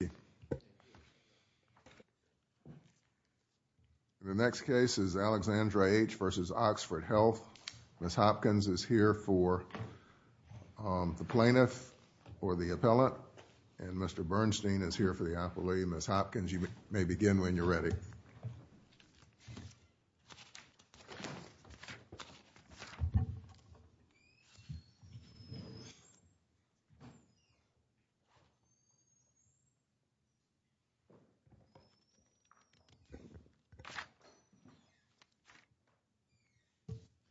The next case is Alexandra H. v. Oxford Health. Ms. Hopkins is here for the plaintiff or the appellant, and Mr. Bernstein is here for the appellee. Thank you, Ms. Hopkins, you may begin when you're ready.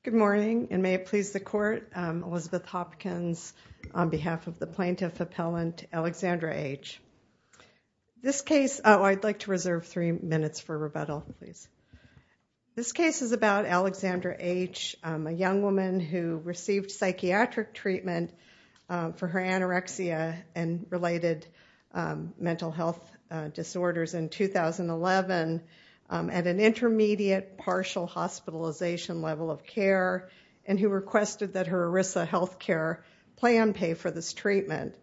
Good morning, and may it please the Court, Elizabeth Hopkins on behalf of the plaintiff appellant Alexandra H. I'd like to reserve three minutes for rebuttal, please. This case is about Alexandra H., a young woman who received psychiatric treatment for her anorexia and related mental health disorders in 2011 at an intermediate partial hospitalization level of care, and who requested that her ERISA health care plan pay for this treatment.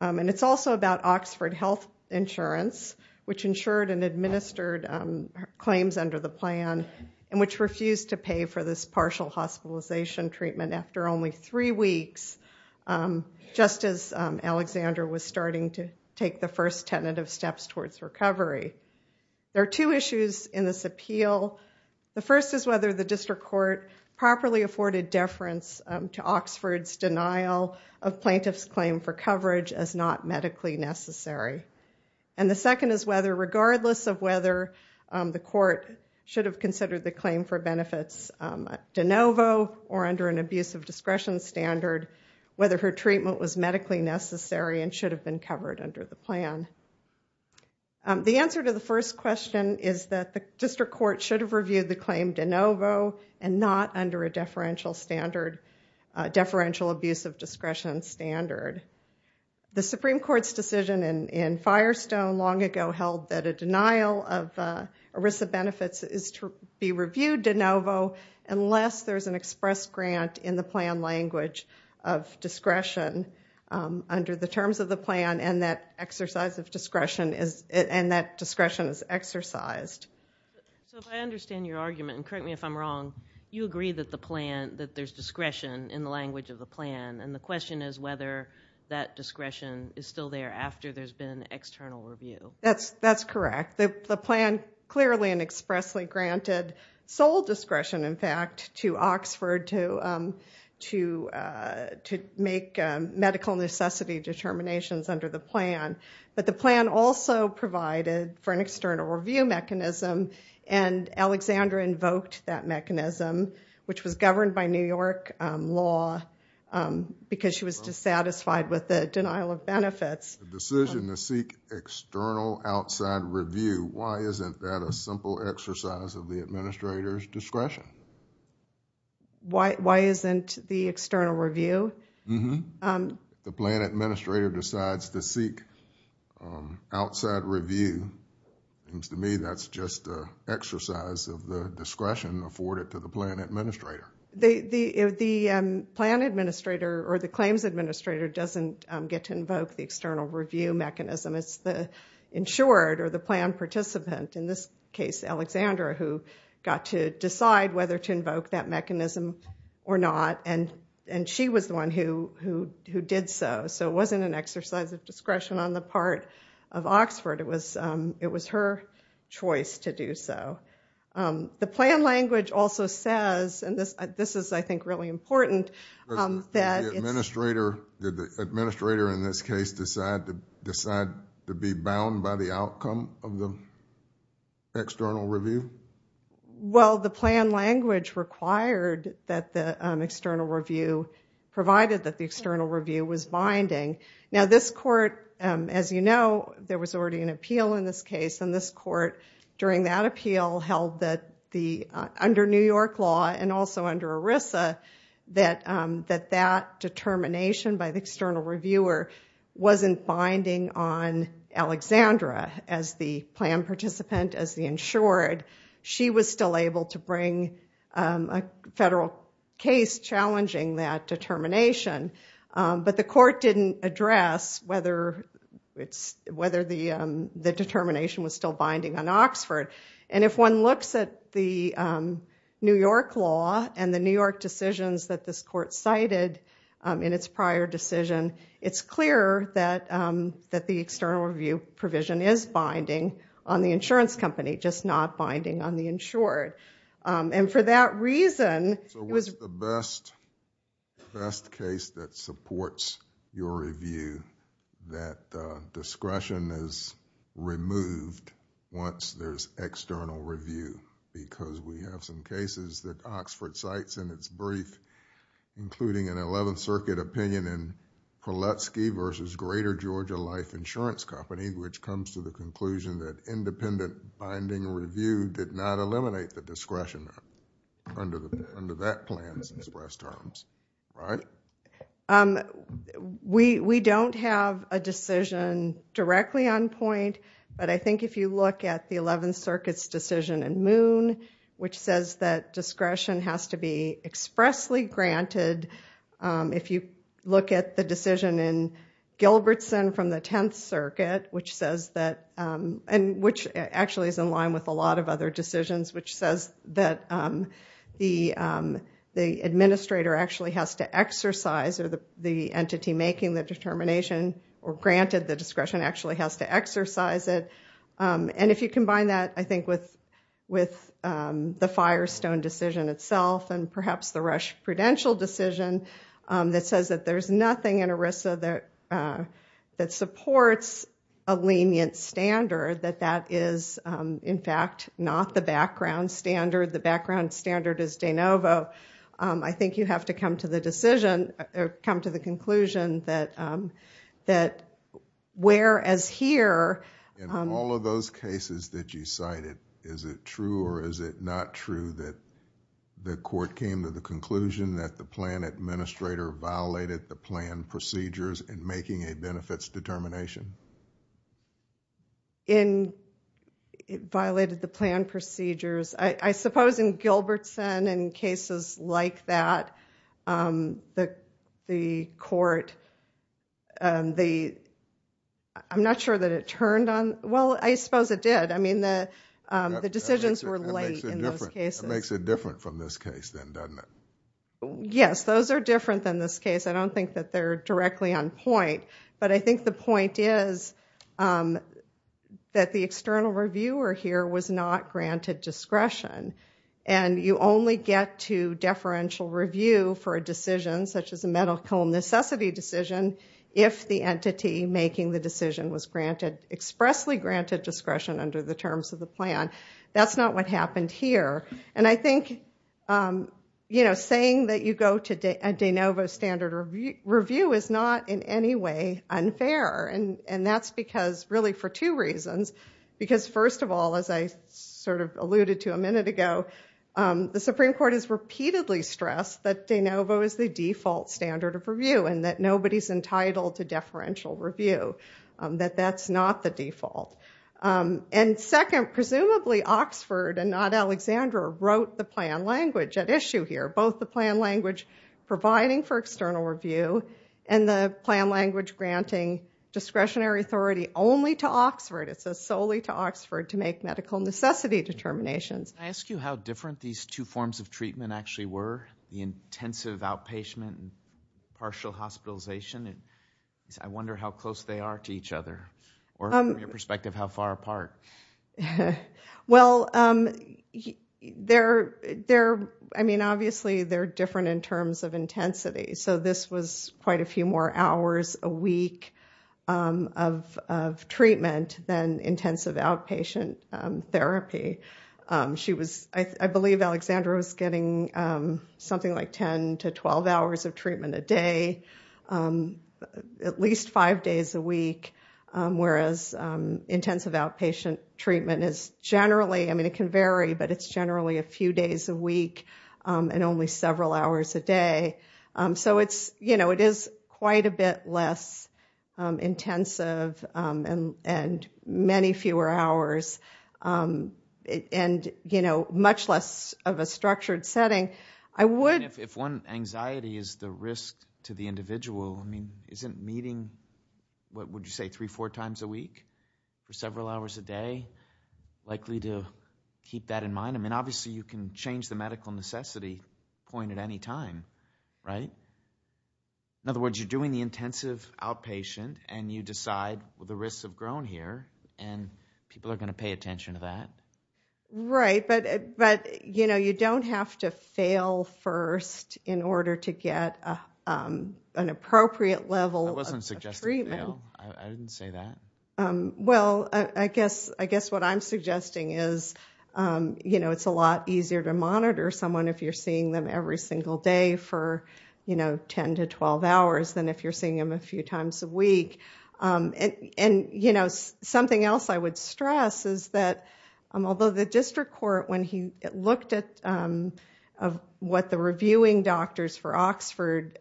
And it's also about Oxford Health Insurance, which insured and administered claims under the plan, and which refused to pay for this partial hospitalization treatment after only three weeks, just as Alexandra was starting to take the first tentative steps towards recovery. There are two issues in this appeal. The first is whether the district court properly afforded deference to Oxford's denial of plaintiff's claim for coverage as not medically necessary. And the second is whether, regardless of whether the court should have considered the claim for benefits de novo or under an abuse of discretion standard, whether her treatment was medically necessary and should have been covered under the plan. The answer to the first question is that the district court should have reviewed the claim de novo and not under a deferential standard, deferential abuse of discretion standard. The Supreme Court's decision in Firestone long ago held that a denial of ERISA benefits is to be reviewed de novo unless there's an express grant in the plan language of discretion under the terms of the plan and that exercise of discretion is, and that discretion is exercised. So if I understand your argument, and correct me if I'm wrong, you agree that the plan, that there's discretion in the language of the plan, and the question is whether that discretion is still there after there's been an external review. That's correct. The plan clearly and expressly granted sole discretion, in fact, to Oxford to make medical necessity determinations under the plan, but the plan also provided for an external review mechanism and Alexandra invoked that mechanism, which was governed by New York law, because she was dissatisfied with the denial of benefits. Decision to seek external outside review, why isn't that a simple exercise of the administrator's discretion? Why isn't the external review? If the plan administrator decides to seek outside review, it seems to me that's just an exercise of the discretion afforded to the plan administrator. The plan administrator or the claims administrator doesn't get to invoke the external review mechanism. It's the insured or the plan participant, in this case Alexandra, who got to decide whether to invoke that mechanism or not, and she was the one who did so. So it wasn't an exercise of discretion on the part of Oxford. It was her choice to do so. The plan language also says, and this is, I think, really important, that it's... Did the administrator, in this case, decide to be bound by the outcome of the external review? Well, the plan language required that the external review, provided that the external review was binding. Now this court, as you know, there was already an appeal in this case, and this court, during that appeal, held that under New York law, and also under ERISA, that that determination by the external reviewer wasn't binding on Alexandra as the plan participant, as the insured. She was still able to bring a federal case challenging that determination, but the court didn't address whether the determination was still binding on Oxford. And if one looks at the New York law and the New York decisions that this court cited in its prior decision, it's clear that the external review provision is binding on the insurance company, just not binding on the insured. And for that reason... So what's the best case that supports your review, that discretion is removed once there's external review, because we have some cases that Oxford cites in its brief, including an Eleventh Circuit opinion in Prelutsky v. Greater Georgia Life Insurance Company, which comes to the conclusion that independent binding review did not eliminate the discretion under that plan's express terms, right? We don't have a decision directly on point, but I think if you look at the Eleventh Circuit's decision in Moon, which says that discretion has to be expressly granted. If you look at the decision in Gilbertson v. the Tenth Circuit, which actually is in line with a lot of other decisions, which says that the administrator actually has to exercise, or the entity making the determination, or granted the discretion, actually has to exercise it. And if you combine that, I think, with the Firestone decision itself, and perhaps the Rush Prudential decision, that says that there's nothing in ERISA that supports a lenient standard, that that is, in fact, not the background standard. The background standard is de novo. I think you have to come to the decision, or come to the conclusion, that where as here... In all of those cases that you cited, is it true or is it not true that the court came to the conclusion that the plan administrator violated the plan procedures in making a benefits determination? It violated the plan procedures. I suppose in Gilbertson, in cases like that, the court, I'm not sure that it turned on... Well, I suppose it did. I mean, the decisions were late in those cases. That makes it different from this case, then, doesn't it? Yes. Those are different than this case. I don't think that they're directly on point, but I think the point is that the external reviewer here was not granted discretion. You only get to deferential review for a decision, such as a medical necessity decision, if the entity making the decision was expressly granted discretion under the terms of the plan. That's not what happened here. I think saying that you go to a de novo standard review is not, in any way, unfair. That's because, really, for two reasons. Because first of all, as I sort of alluded to a minute ago, the Supreme Court has repeatedly stressed that de novo is the default standard of review and that nobody's entitled to deferential review, that that's not the default. Second, presumably Oxford and not Alexandra wrote the plan language at issue here, both the plan language providing for external review and the plan language granting discretionary authority only to Oxford. It says solely to Oxford to make medical necessity determinations. Can I ask you how different these two forms of treatment actually were, the intensive outpatient and partial hospitalization? I wonder how close they are to each other, or from your perspective, how far apart? Well, obviously, they're different in terms of intensity. So this was quite a few more hours a week of treatment than intensive outpatient therapy. I believe Alexandra was getting something like 10 to 12 hours of treatment a day, at least five days a week, whereas intensive outpatient treatment is generally, I mean, it can vary, but it's generally a few days a week and only several hours a day. So it is quite a bit less intensive and many fewer hours, and much less of a structured setting. I mean, if one anxiety is the risk to the individual, I mean, isn't meeting, what would you say, three, four times a week for several hours a day likely to keep that in mind? I mean, obviously, you can change the medical necessity point at any time, right? In other words, you're doing the intensive outpatient and you decide, well, the risks have grown here and people are going to pay attention to that. Right, but you don't have to fail first in order to get an appropriate level of treatment. I wasn't suggesting fail. I didn't say that. Well, I guess what I'm suggesting is it's a lot easier to monitor someone if you're seeing them every single day for 10 to 12 hours than if you're seeing them a few times a week. And, you know, something else I would stress is that although the district court, when he looked at what the reviewing doctors for Oxford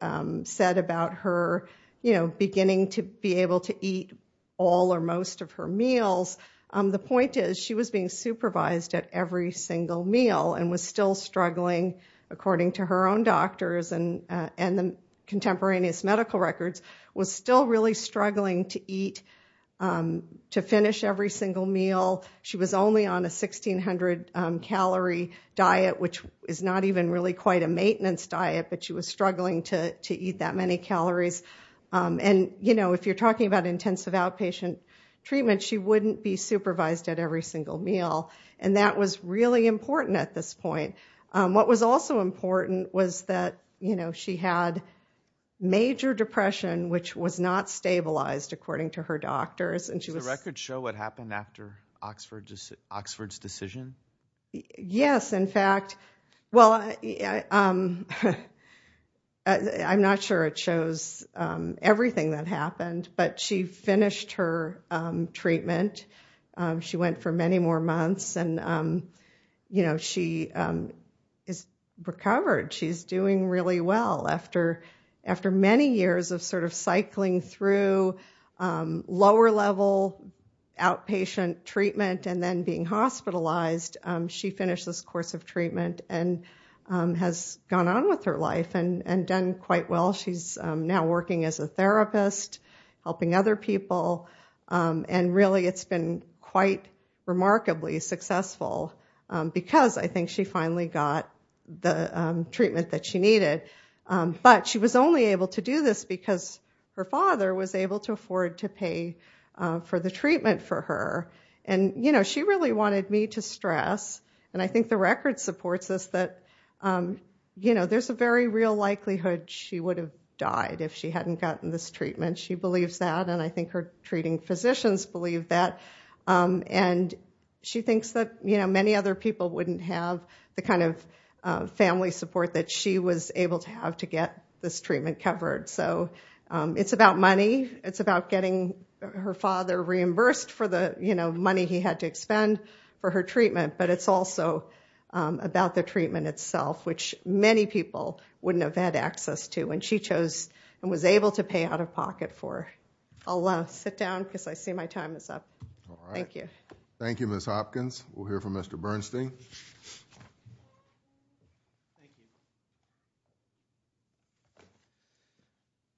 said about her, you know, beginning to be able to eat all or most of her meals, the point is she was being supervised at every single meal and was still struggling, according to her own doctors and the contemporaneous medical records, was still really struggling to eat, to finish every single meal. She was only on a 1600 calorie diet, which is not even really quite a maintenance diet, but she was struggling to eat that many calories. And you know, if you're talking about intensive outpatient treatment, she wouldn't be supervised at every single meal. And that was really important at this point. What was also important was that, you know, she had major depression, which was not stabilized, according to her doctors. Does the record show what happened after Oxford's decision? Yes, in fact, well, I'm not sure it shows everything that happened, but she finished her treatment. She went for many more months and, you know, she is recovered. She's doing really well. After many years of sort of cycling through lower level outpatient treatment and then being hospitalized, she finished this course of treatment and has gone on with her life and done quite well. She's now working as a therapist, helping other people. And really, it's been quite remarkably successful because I think she finally got the treatment that she needed. But she was only able to do this because her father was able to afford to pay for the treatment for her. And, you know, she really wanted me to stress, and I think the record supports this, that, you know, there's a very real likelihood she would have died if she hadn't gotten this treatment. She believes that. And I think her treating physicians believe that. And she thinks that, you know, many other people wouldn't have the kind of family support that she was able to have to get this treatment covered. So it's about money. It's about getting her father reimbursed for the, you know, money he had to expend for her treatment. But it's also about the treatment itself, which many people wouldn't have had access to when she chose and was able to pay out-of-pocket for. I'll sit down because I see my time is up. Thank you. All right. Thank you, Ms. Hopkins. We'll hear from Mr. Bernstein. Thank you.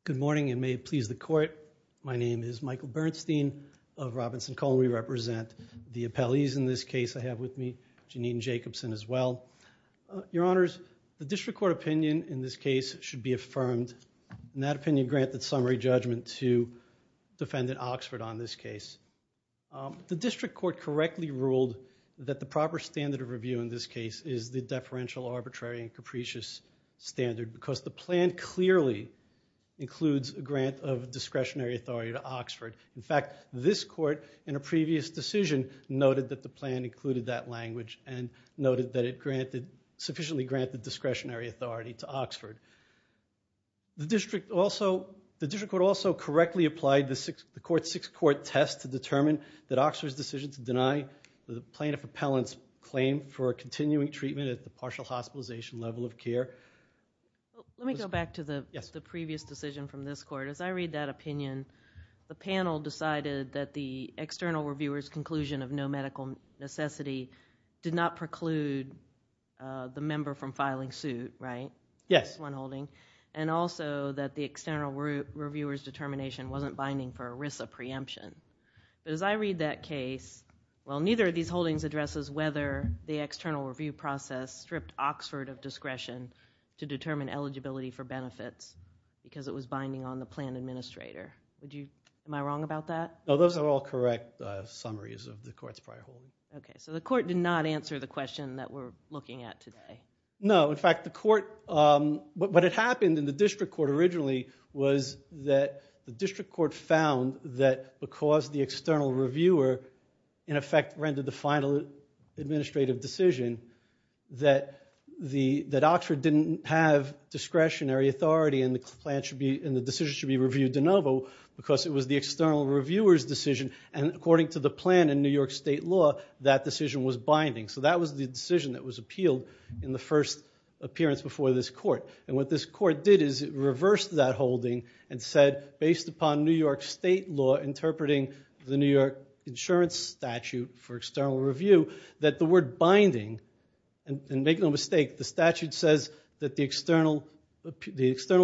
Good morning, and may it please the Court. My name is Michael Bernstein of Robinson-Cole. We represent the appellees in this case. I have with me Jeanine Jacobson as well. Your Honors, the district court opinion in this case should be affirmed, and that opinion granted summary judgment to Defendant Oxford on this case. The district court correctly ruled that the proper standard of review in this case is the deferential, arbitrary, and capricious standard because the plan clearly includes a grant of discretionary authority to Oxford. In fact, this court in a previous decision noted that the plan included that language and noted that it sufficiently granted discretionary authority to Oxford. The district court also correctly applied the court's six-court test to determine that Oxford's decision to deny the plaintiff appellant's claim for continuing treatment at the partial hospitalization level of care was correct. Let me go back to the previous decision from this court. As I read that opinion, the panel decided that the external reviewer's conclusion of no medical necessity did not preclude the member from filing suit, right? Yes. One holding. And also that the external reviewer's determination wasn't binding for ERISA preemption. As I read that case, well, neither of these holdings addresses whether the external review process stripped Oxford of discretion to determine eligibility for benefits because it was binding on the plan administrator. Would you, am I wrong about that? No, those are all correct summaries of the court's prior holdings. Okay. So the court did not answer the question that we're looking at today. No. In fact, the court, what had happened in the district court originally was that the district court found that because the external reviewer, in effect, rendered the final administrative decision that Oxford didn't have discretionary authority and the decision should be reviewed de novo because it was the external reviewer's decision. And according to the plan in New York state law, that decision was binding. So that was the decision that was appealed in the first appearance before this court. And what this court did is it reversed that holding and said, based upon New York state law interpreting the New York insurance statute for external review, that the word binding, and make no mistake, the statute says that the external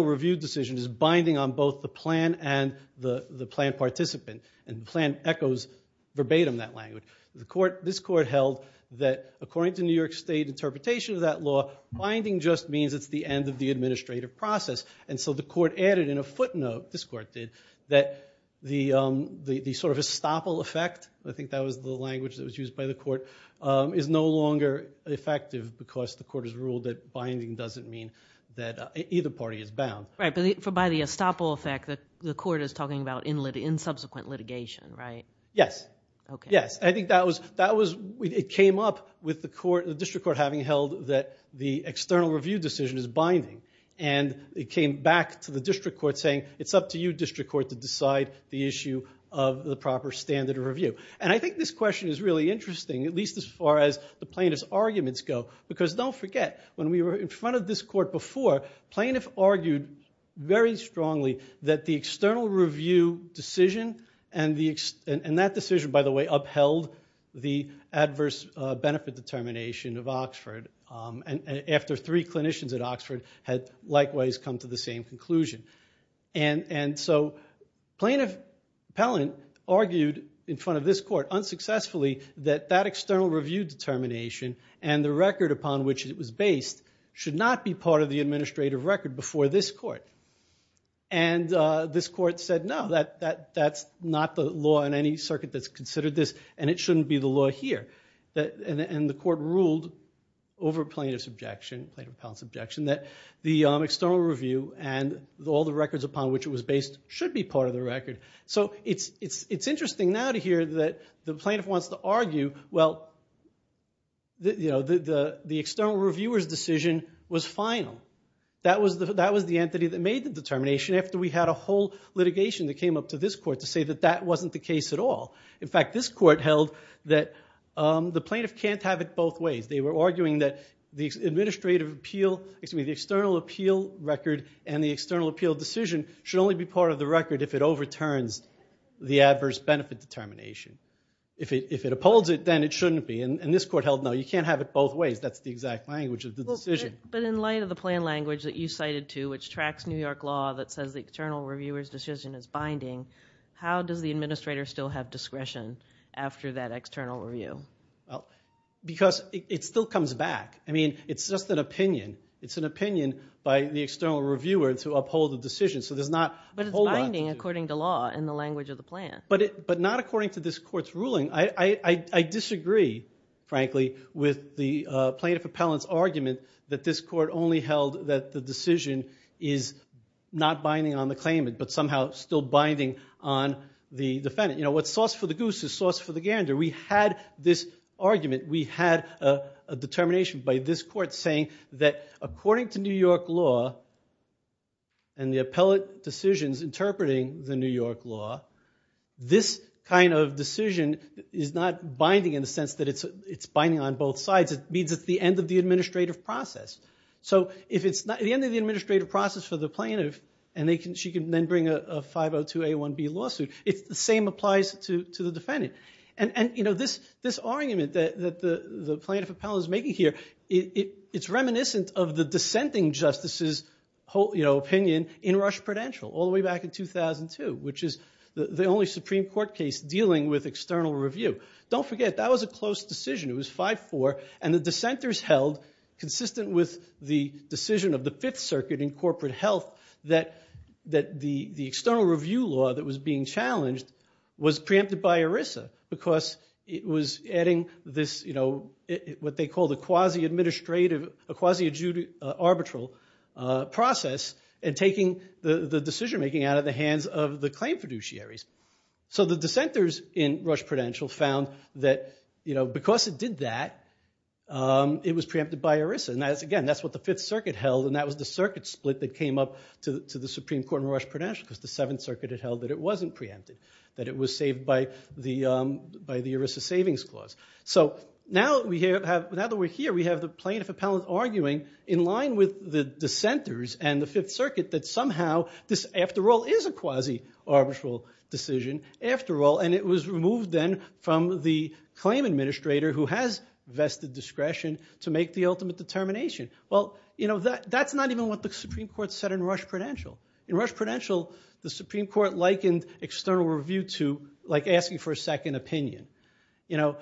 review decision is binding on both the plan and the plan participant. And the plan echoes verbatim that language. This court held that according to New York state interpretation of that law, binding just means it's the end of the administrative process. And so the court added in a footnote, this court did, that the sort of estoppel effect, I think that was the language that was used by the court, is no longer effective because the court has ruled that binding doesn't mean that either party is bound. Right, but by the estoppel effect, the court is talking about in subsequent litigation, right? Yes. Yes. I think that was, it came up with the court, the district court having held that the external review decision is binding. And it came back to the district court saying, it's up to you, district court, to decide the issue of the proper standard of review. And I think this question is really interesting, at least as far as the plaintiff's arguments go. Because don't forget, when we were in front of this court before, plaintiff argued very strongly that the external review decision, and that decision, by the way, upheld the adverse benefit determination of Oxford, after three clinicians at Oxford had likewise come to the same conclusion. And so plaintiff Pellant argued in front of this court, unsuccessfully, that that external review determination and the record upon which it was based should not be part of the administrative record before this court. And this court said, no, that's not the law in any circuit that's considered this, and it shouldn't be the law here. And the court ruled over plaintiff's objection, plaintiff Pellant's objection, that the external review and all the records upon which it was based should be part of the record. So it's interesting now to hear that the plaintiff wants to argue, well, the external reviewer's decision was final. That was the entity that made the determination after we had a whole litigation that came up to this court to say that that wasn't the case at all. In fact, this court held that the plaintiff can't have it both ways. They were arguing that the external appeal record and the external appeal decision should only be part of the record if it overturns the adverse benefit determination. If it upholds it, then it shouldn't be. And this court held, no, you can't have it both ways. That's the exact language of the decision. But in light of the plain language that you cited, too, which tracks New York law that says the external reviewer's decision is binding, how does the administrator still have discretion after that external review? Because it still comes back. I mean, it's just an opinion. It's an opinion by the external reviewer to uphold the decision. But it's binding according to law in the language of the plan. But not according to this court's ruling. I disagree, frankly, with the plaintiff appellant's argument that this court only held that the decision is not binding on the claimant but somehow still binding on the defendant. What's sauce for the goose is sauce for the gander. We had this argument. We had a determination by this court saying that according to New York law and the appellate decisions interpreting the New York law, this kind of decision is not binding in the sense that it's binding on both sides. It means it's the end of the administrative process. So if it's not the end of the administrative process for the plaintiff and she can then bring a 502A1B lawsuit, it's the same applies to the defendant. And this argument that the plaintiff appellant is making here, it's reminiscent of the dissenting justices' opinion in Rush Prudential all the way back in 2002, which is the only Supreme Court case dealing with external review. Don't forget, that was a close decision. It was 5-4. And the dissenters held, consistent with the decision of the Fifth Circuit in corporate health, that the external review law that was being challenged was preempted by ERISA because it was adding what they called a quasi-adjudicatory arbitral process and taking the decision-making out of the hands of the claim fiduciaries. So the dissenters in Rush Prudential found that because it did that, it was preempted by ERISA. And again, that's what the Fifth Circuit held, and that was the circuit split that came up to the Supreme Court in Rush Prudential, because the Seventh Circuit had held that it wasn't preempted, that it was saved by the ERISA savings clause. So now that we're here, we have the plaintiff appellant arguing in line with the dissenters and the Fifth Circuit that somehow this, after all, is a quasi-arbitral decision, after all, and it was removed then from the claim administrator who has vested discretion to make the ultimate determination. Well, that's not even what the Supreme Court said in Rush Prudential. In Rush Prudential, the Supreme Court likened external review to asking for a second opinion.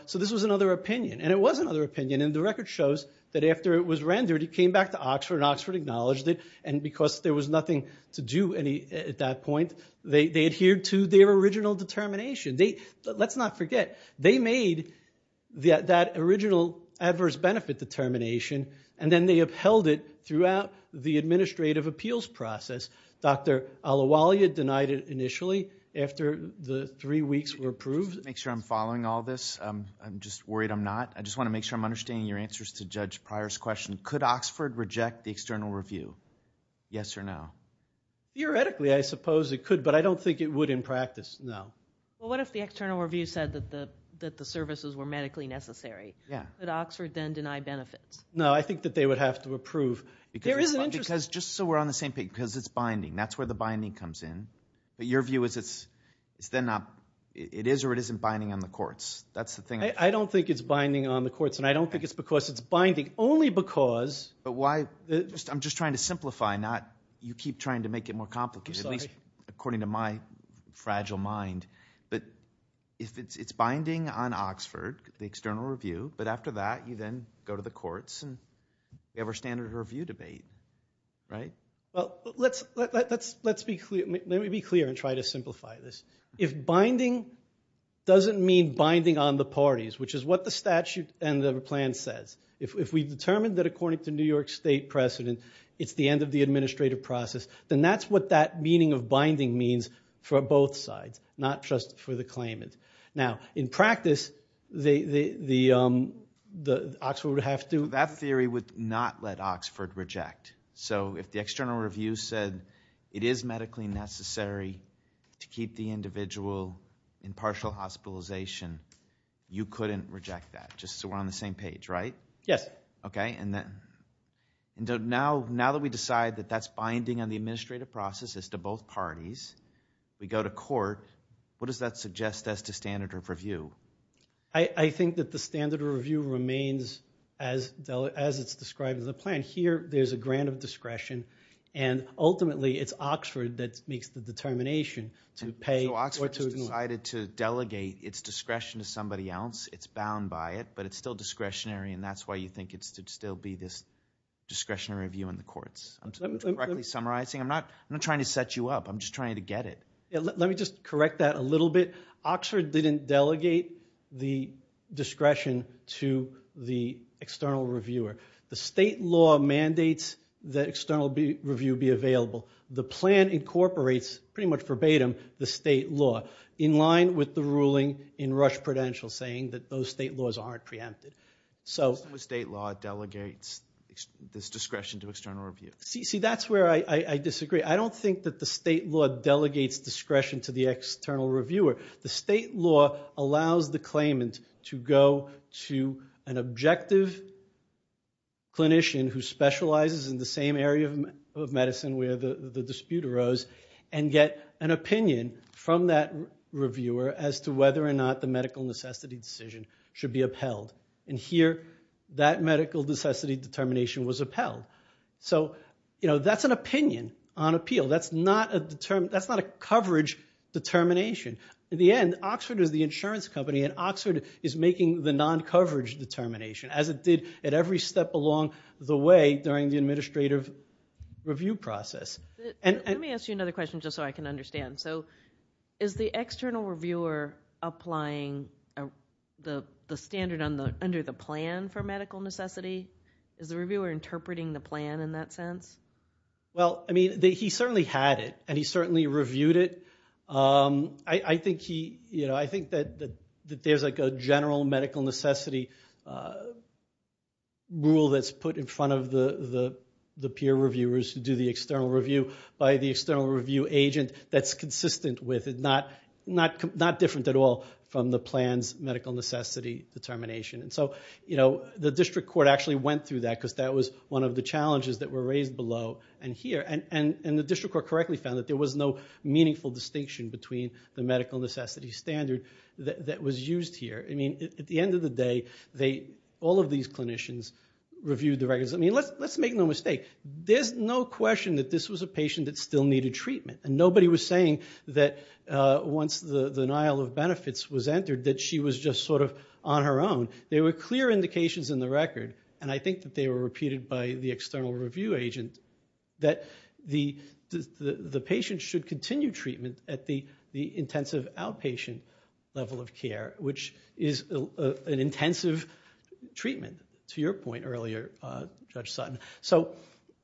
So this was another opinion, and it was another opinion, and the record shows that after it was rendered, it came back to Oxford, and Oxford acknowledged it, and because there was nothing to do at that point, they adhered to their original determination. Let's not forget, they made that original adverse benefit determination, and then they upheld it throughout the administrative appeals process. Dr. Al-Awali had denied it initially after the three weeks were approved. Just to make sure I'm following all this, I'm just worried I'm not. I just want to make sure I'm understanding your answers to Judge Pryor's question. Could Oxford reject the external review, yes or no? Theoretically, I suppose it could, but I don't think it would in practice, no. Well, what if the external review said that the services were medically necessary? Yeah. Would Oxford then deny benefits? No, I think that they would have to approve. There is an interest... Because just so we're on the same page, because it's binding. That's where the binding comes in. But your view is it's then not... It is or it isn't binding on the courts. That's the thing. I don't think it's binding on the courts, and I don't think it's because it's binding. Only because... But why... I'm just trying to simplify, not... You keep trying to make it more complicated. I'm sorry. According to my fragile mind, but if it's binding on Oxford, the external review, but after that, you then go to the courts, and we have our standard review debate, right? Well, let me be clear and try to simplify this. If binding doesn't mean binding on the parties, which is what the statute and the plan says, if we've determined that according to New York State precedent, it's the end of the binding means for both sides, not just for the claimant. Now in practice, the Oxford would have to... That theory would not let Oxford reject. So if the external review said it is medically necessary to keep the individual in partial hospitalization, you couldn't reject that, just so we're on the same page, right? Yes. Okay. And now that we decide that that's binding on the administrative process as to both parties, we go to court, what does that suggest as to standard of review? I think that the standard of review remains as it's described in the plan. Here there's a grant of discretion, and ultimately it's Oxford that makes the determination to pay or to... So Oxford has decided to delegate its discretion to somebody else, it's bound by it, but it's still discretionary, and that's why you think it should still be this discretionary view in the courts. I'm directly summarizing. I'm not trying to set you up, I'm just trying to get it. Let me just correct that a little bit. Oxford didn't delegate the discretion to the external reviewer. The state law mandates that external review be available. The plan incorporates, pretty much verbatim, the state law, in line with the ruling in So the state law delegates this discretion to external review. See, that's where I disagree. I don't think that the state law delegates discretion to the external reviewer. The state law allows the claimant to go to an objective clinician who specializes in the same area of medicine where the dispute arose, and get an opinion from that reviewer as to whether or not the medical necessity decision should be upheld. And here, that medical necessity determination was upheld. So that's an opinion on appeal. That's not a coverage determination. In the end, Oxford is the insurance company, and Oxford is making the non-coverage determination, as it did at every step along the way during the administrative review process. Let me ask you another question just so I can understand. So is the external reviewer applying the standard under the plan for medical necessity? Is the reviewer interpreting the plan in that sense? Well, I mean, he certainly had it, and he certainly reviewed it. I think that there's a general medical necessity rule that's put in front of the peer reviewers who do the external review by the external review agent that's consistent with it, not different at all from the plan's medical necessity determination. And so the district court actually went through that because that was one of the challenges that were raised below and here, and the district court correctly found that there was no meaningful distinction between the medical necessity standard that was used here. I mean, at the end of the day, all of these clinicians reviewed the records. I mean, let's make no mistake. There's no question that this was a patient that still needed treatment, and nobody was saying that once the denial of benefits was entered that she was just sort of on her own. There were clear indications in the record, and I think that they were repeated by the external review agent, that the patient should continue treatment at the intensive outpatient level of care, which is an intensive treatment, to your point earlier, Judge Sutton. So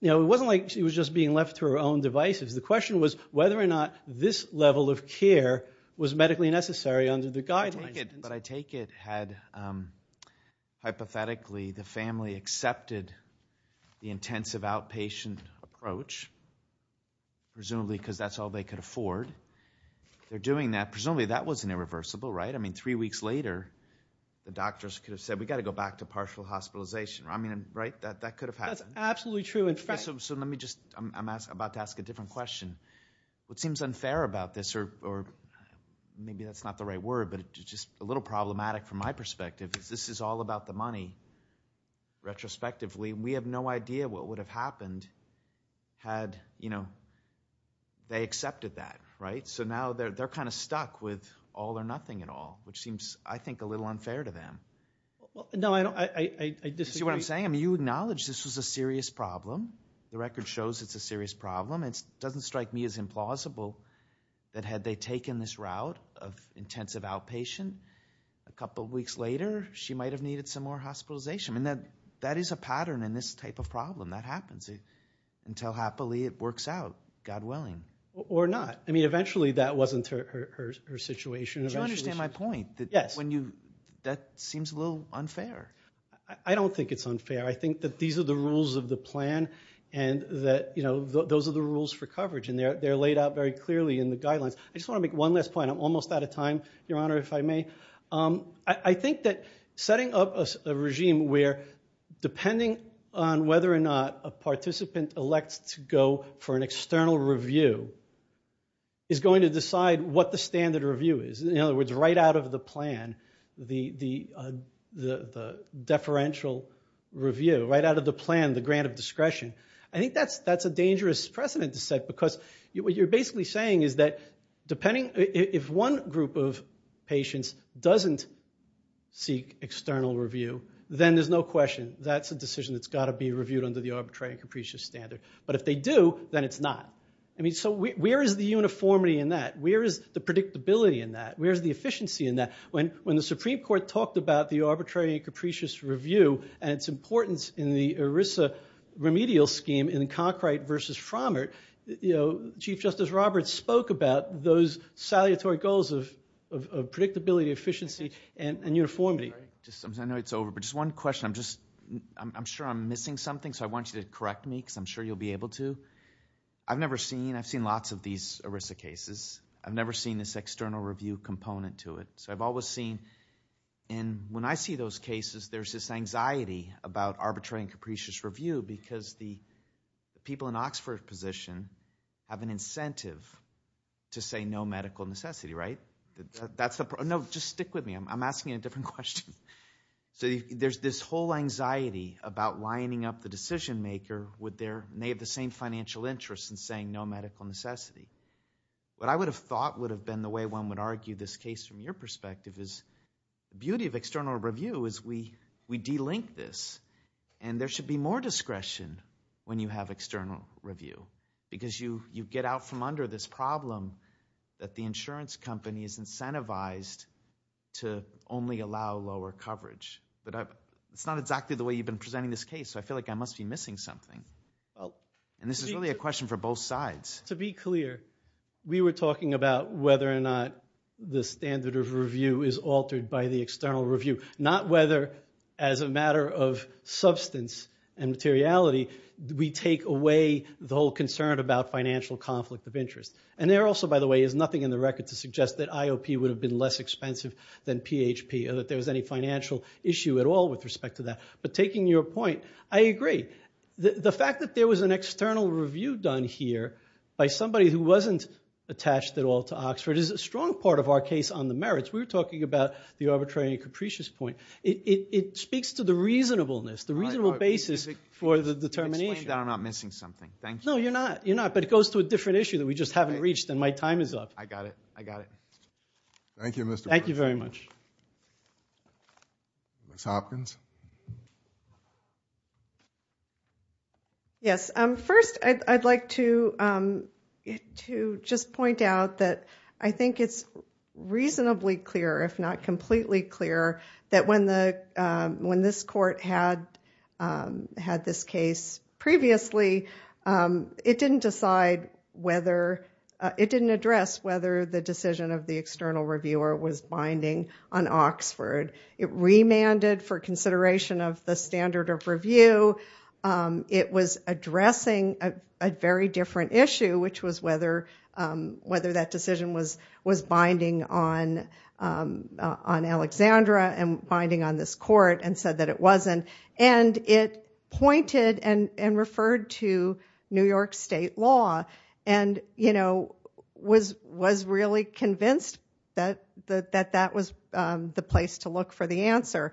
it wasn't like she was just being left to her own devices. The question was whether or not this level of care was medically necessary under the guidance. But I take it had, hypothetically, the family accepted the intensive outpatient approach, presumably because that's all they could afford, they're doing that, presumably that wasn't irreversible, right? I mean, three weeks later, the doctors could have said, we've got to go back to partial hospitalization. I mean, right? That could have happened. That's absolutely true. So let me just, I'm about to ask a different question. What seems unfair about this, or maybe that's not the right word, but it's just a little problematic from my perspective, is this is all about the money, retrospectively. We have no idea what would have happened had, you know, they accepted that, right? So now they're kind of stuck with all or nothing at all, which seems, I think, a little unfair to them. No, I don't. I disagree. You see what I'm saying? I mean, you acknowledge this was a serious problem. The record shows it's a serious problem. It doesn't strike me as implausible that had they taken this route of intensive outpatient, a couple of weeks later, she might have needed some more hospitalization. I mean, that is a pattern in this type of problem. That happens. Until, happily, it works out, God willing. Or not. I mean, eventually, that wasn't her situation. Do you understand my point? Yes. That seems a little unfair. I don't think it's unfair. I think that these are the rules of the plan and that, you know, those are the rules for coverage and they're laid out very clearly in the guidelines. I just want to make one last point. I'm almost out of time, Your Honor, if I may. I think that setting up a regime where, depending on whether or not a participant elects to go for an external review, is going to decide what the standard review is. In other words, right out of the plan, the deferential review, right out of the plan, the grant of discretion. I think that's a dangerous precedent to set because what you're basically saying is that, if one group of patients doesn't seek external review, then there's no question, that's a decision that's got to be reviewed under the arbitrary and capricious standard. But if they do, then it's not. I mean, so where is the uniformity in that? Where is the predictability in that? Where is the efficiency in that? When the Supreme Court talked about the arbitrary and capricious review and its importance in the ERISA remedial scheme in Conkright versus Frommert, you know, Chief Justice Roberts spoke about those salutary goals of predictability, efficiency, and uniformity. I know it's over, but just one question. I'm sure I'm missing something, so I want you to correct me because I'm sure you'll be able to. I've never seen, I've seen lots of these ERISA cases. I've never seen this external review component to it. So I've always seen, and when I see those cases, there's this anxiety about arbitrary and capricious review because the people in Oxford position have an incentive to say no medical necessity, right? That's the problem. No, just stick with me. I'm asking a different question. So there's this whole anxiety about lining up the decision maker with their, may have the same financial interest in saying no medical necessity. What I would have thought would have been the way one would argue this case from your perspective is the beauty of external review is we delink this, and there should be more discretion when you have external review because you get out from under this problem that the insurance company is incentivized to only allow lower coverage, but it's not exactly the way you've been presenting this case, so I feel like I must be missing something. And this is really a question for both sides. To be clear, we were talking about whether or not the standard of review is altered by the external review, not whether as a matter of substance and materiality we take away the whole concern about financial conflict of interest. And there also, by the way, is nothing in the record to suggest that IOP would have been less expensive than PHP or that there was any financial issue at all with respect to that. But taking your point, I agree. The fact that there was an external review done here by somebody who wasn't attached at all to Oxford is a strong part of our case on the merits. We were talking about the arbitrary and capricious point. It speaks to the reasonableness, the reasonable basis for the determination. Explain that I'm not missing something. Thank you. No, you're not. You're not, but it goes to a different issue that we just haven't reached, and my time is up. I got it. I got it. Thank you, Mr. Bernstein. Thank you very much. Ms. Hopkins? Yes. First, I'd like to just point out that I think it's reasonably clear, if not completely clear, that when this court had this case previously, it didn't decide whether, it didn't address whether the decision of the external reviewer was binding on Oxford. It remanded for consideration of the standard of review. It was addressing a very different issue, which was whether that decision was binding on Alexandra and binding on this court, and said that it wasn't, and it pointed and referred to New York State law, and was really convinced that that was the place to look for the answer.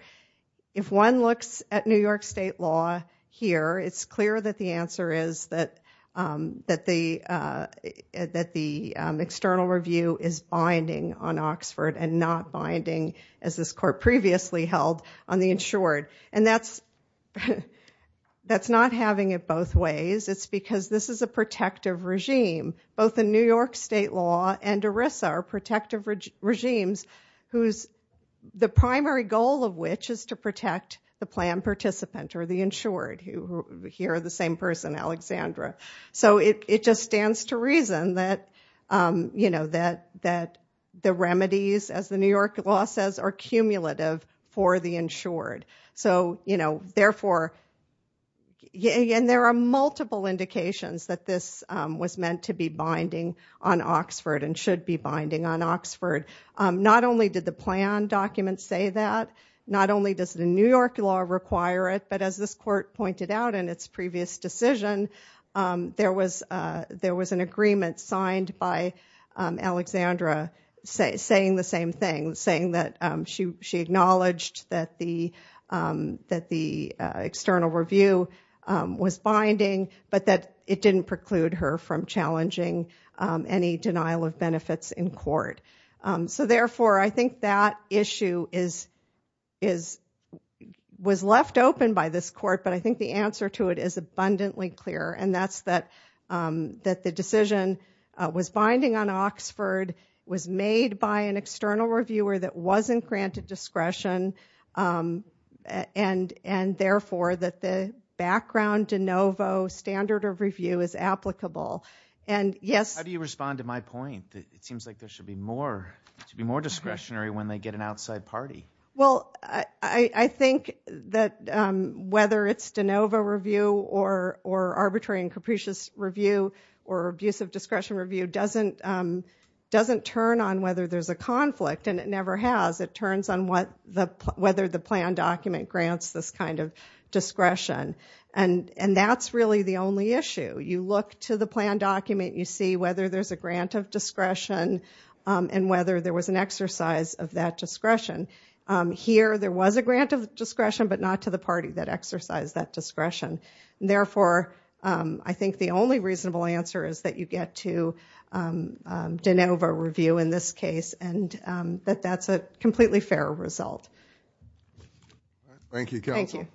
If one looks at New York State law here, it's clear that the answer is that the external review is binding on Oxford and not binding, as this court previously held, on the insured. And that's not having it both ways. It's because this is a protective regime. Both the New York State law and ERISA are protective regimes, the primary goal of which is to protect the plan participant or the insured, who here are the same person, Alexandra. So it just stands to reason that the remedies, as the New York law says, are cumulative for the insured. So therefore, and there are multiple indications that this was meant to be binding on Oxford and should be binding on Oxford. Not only did the plan document say that, not only does the New York law require it, but as this court pointed out in its previous decision, there was an agreement signed by Alexandra saying the same thing, saying that she acknowledged that the external review was binding, but that it didn't preclude her from challenging any denial of benefits in court. So therefore, I think that issue was left open by this court, but I think the answer to it is abundantly clear, and that's that the decision was binding on Oxford, was made by an external reviewer that wasn't granted discretion, and therefore, that the background de novo standard of review is applicable. And yes. How do you respond to my point? It seems like there should be more discretionary when they get an outside party. Well, I think that whether it's de novo review or arbitrary and capricious review or abuse of discretion review doesn't turn on whether there's a conflict, and it never has. It turns on whether the plan document grants this kind of discretion, and that's really the only issue. You look to the plan document, you see whether there's a grant of discretion and whether there was an exercise of that discretion. Here there was a grant of discretion, but not to the party that exercised that discretion. Therefore, I think the only reasonable answer is that you get to de novo review in this case, and that that's a completely fair result. Thank you, counsel.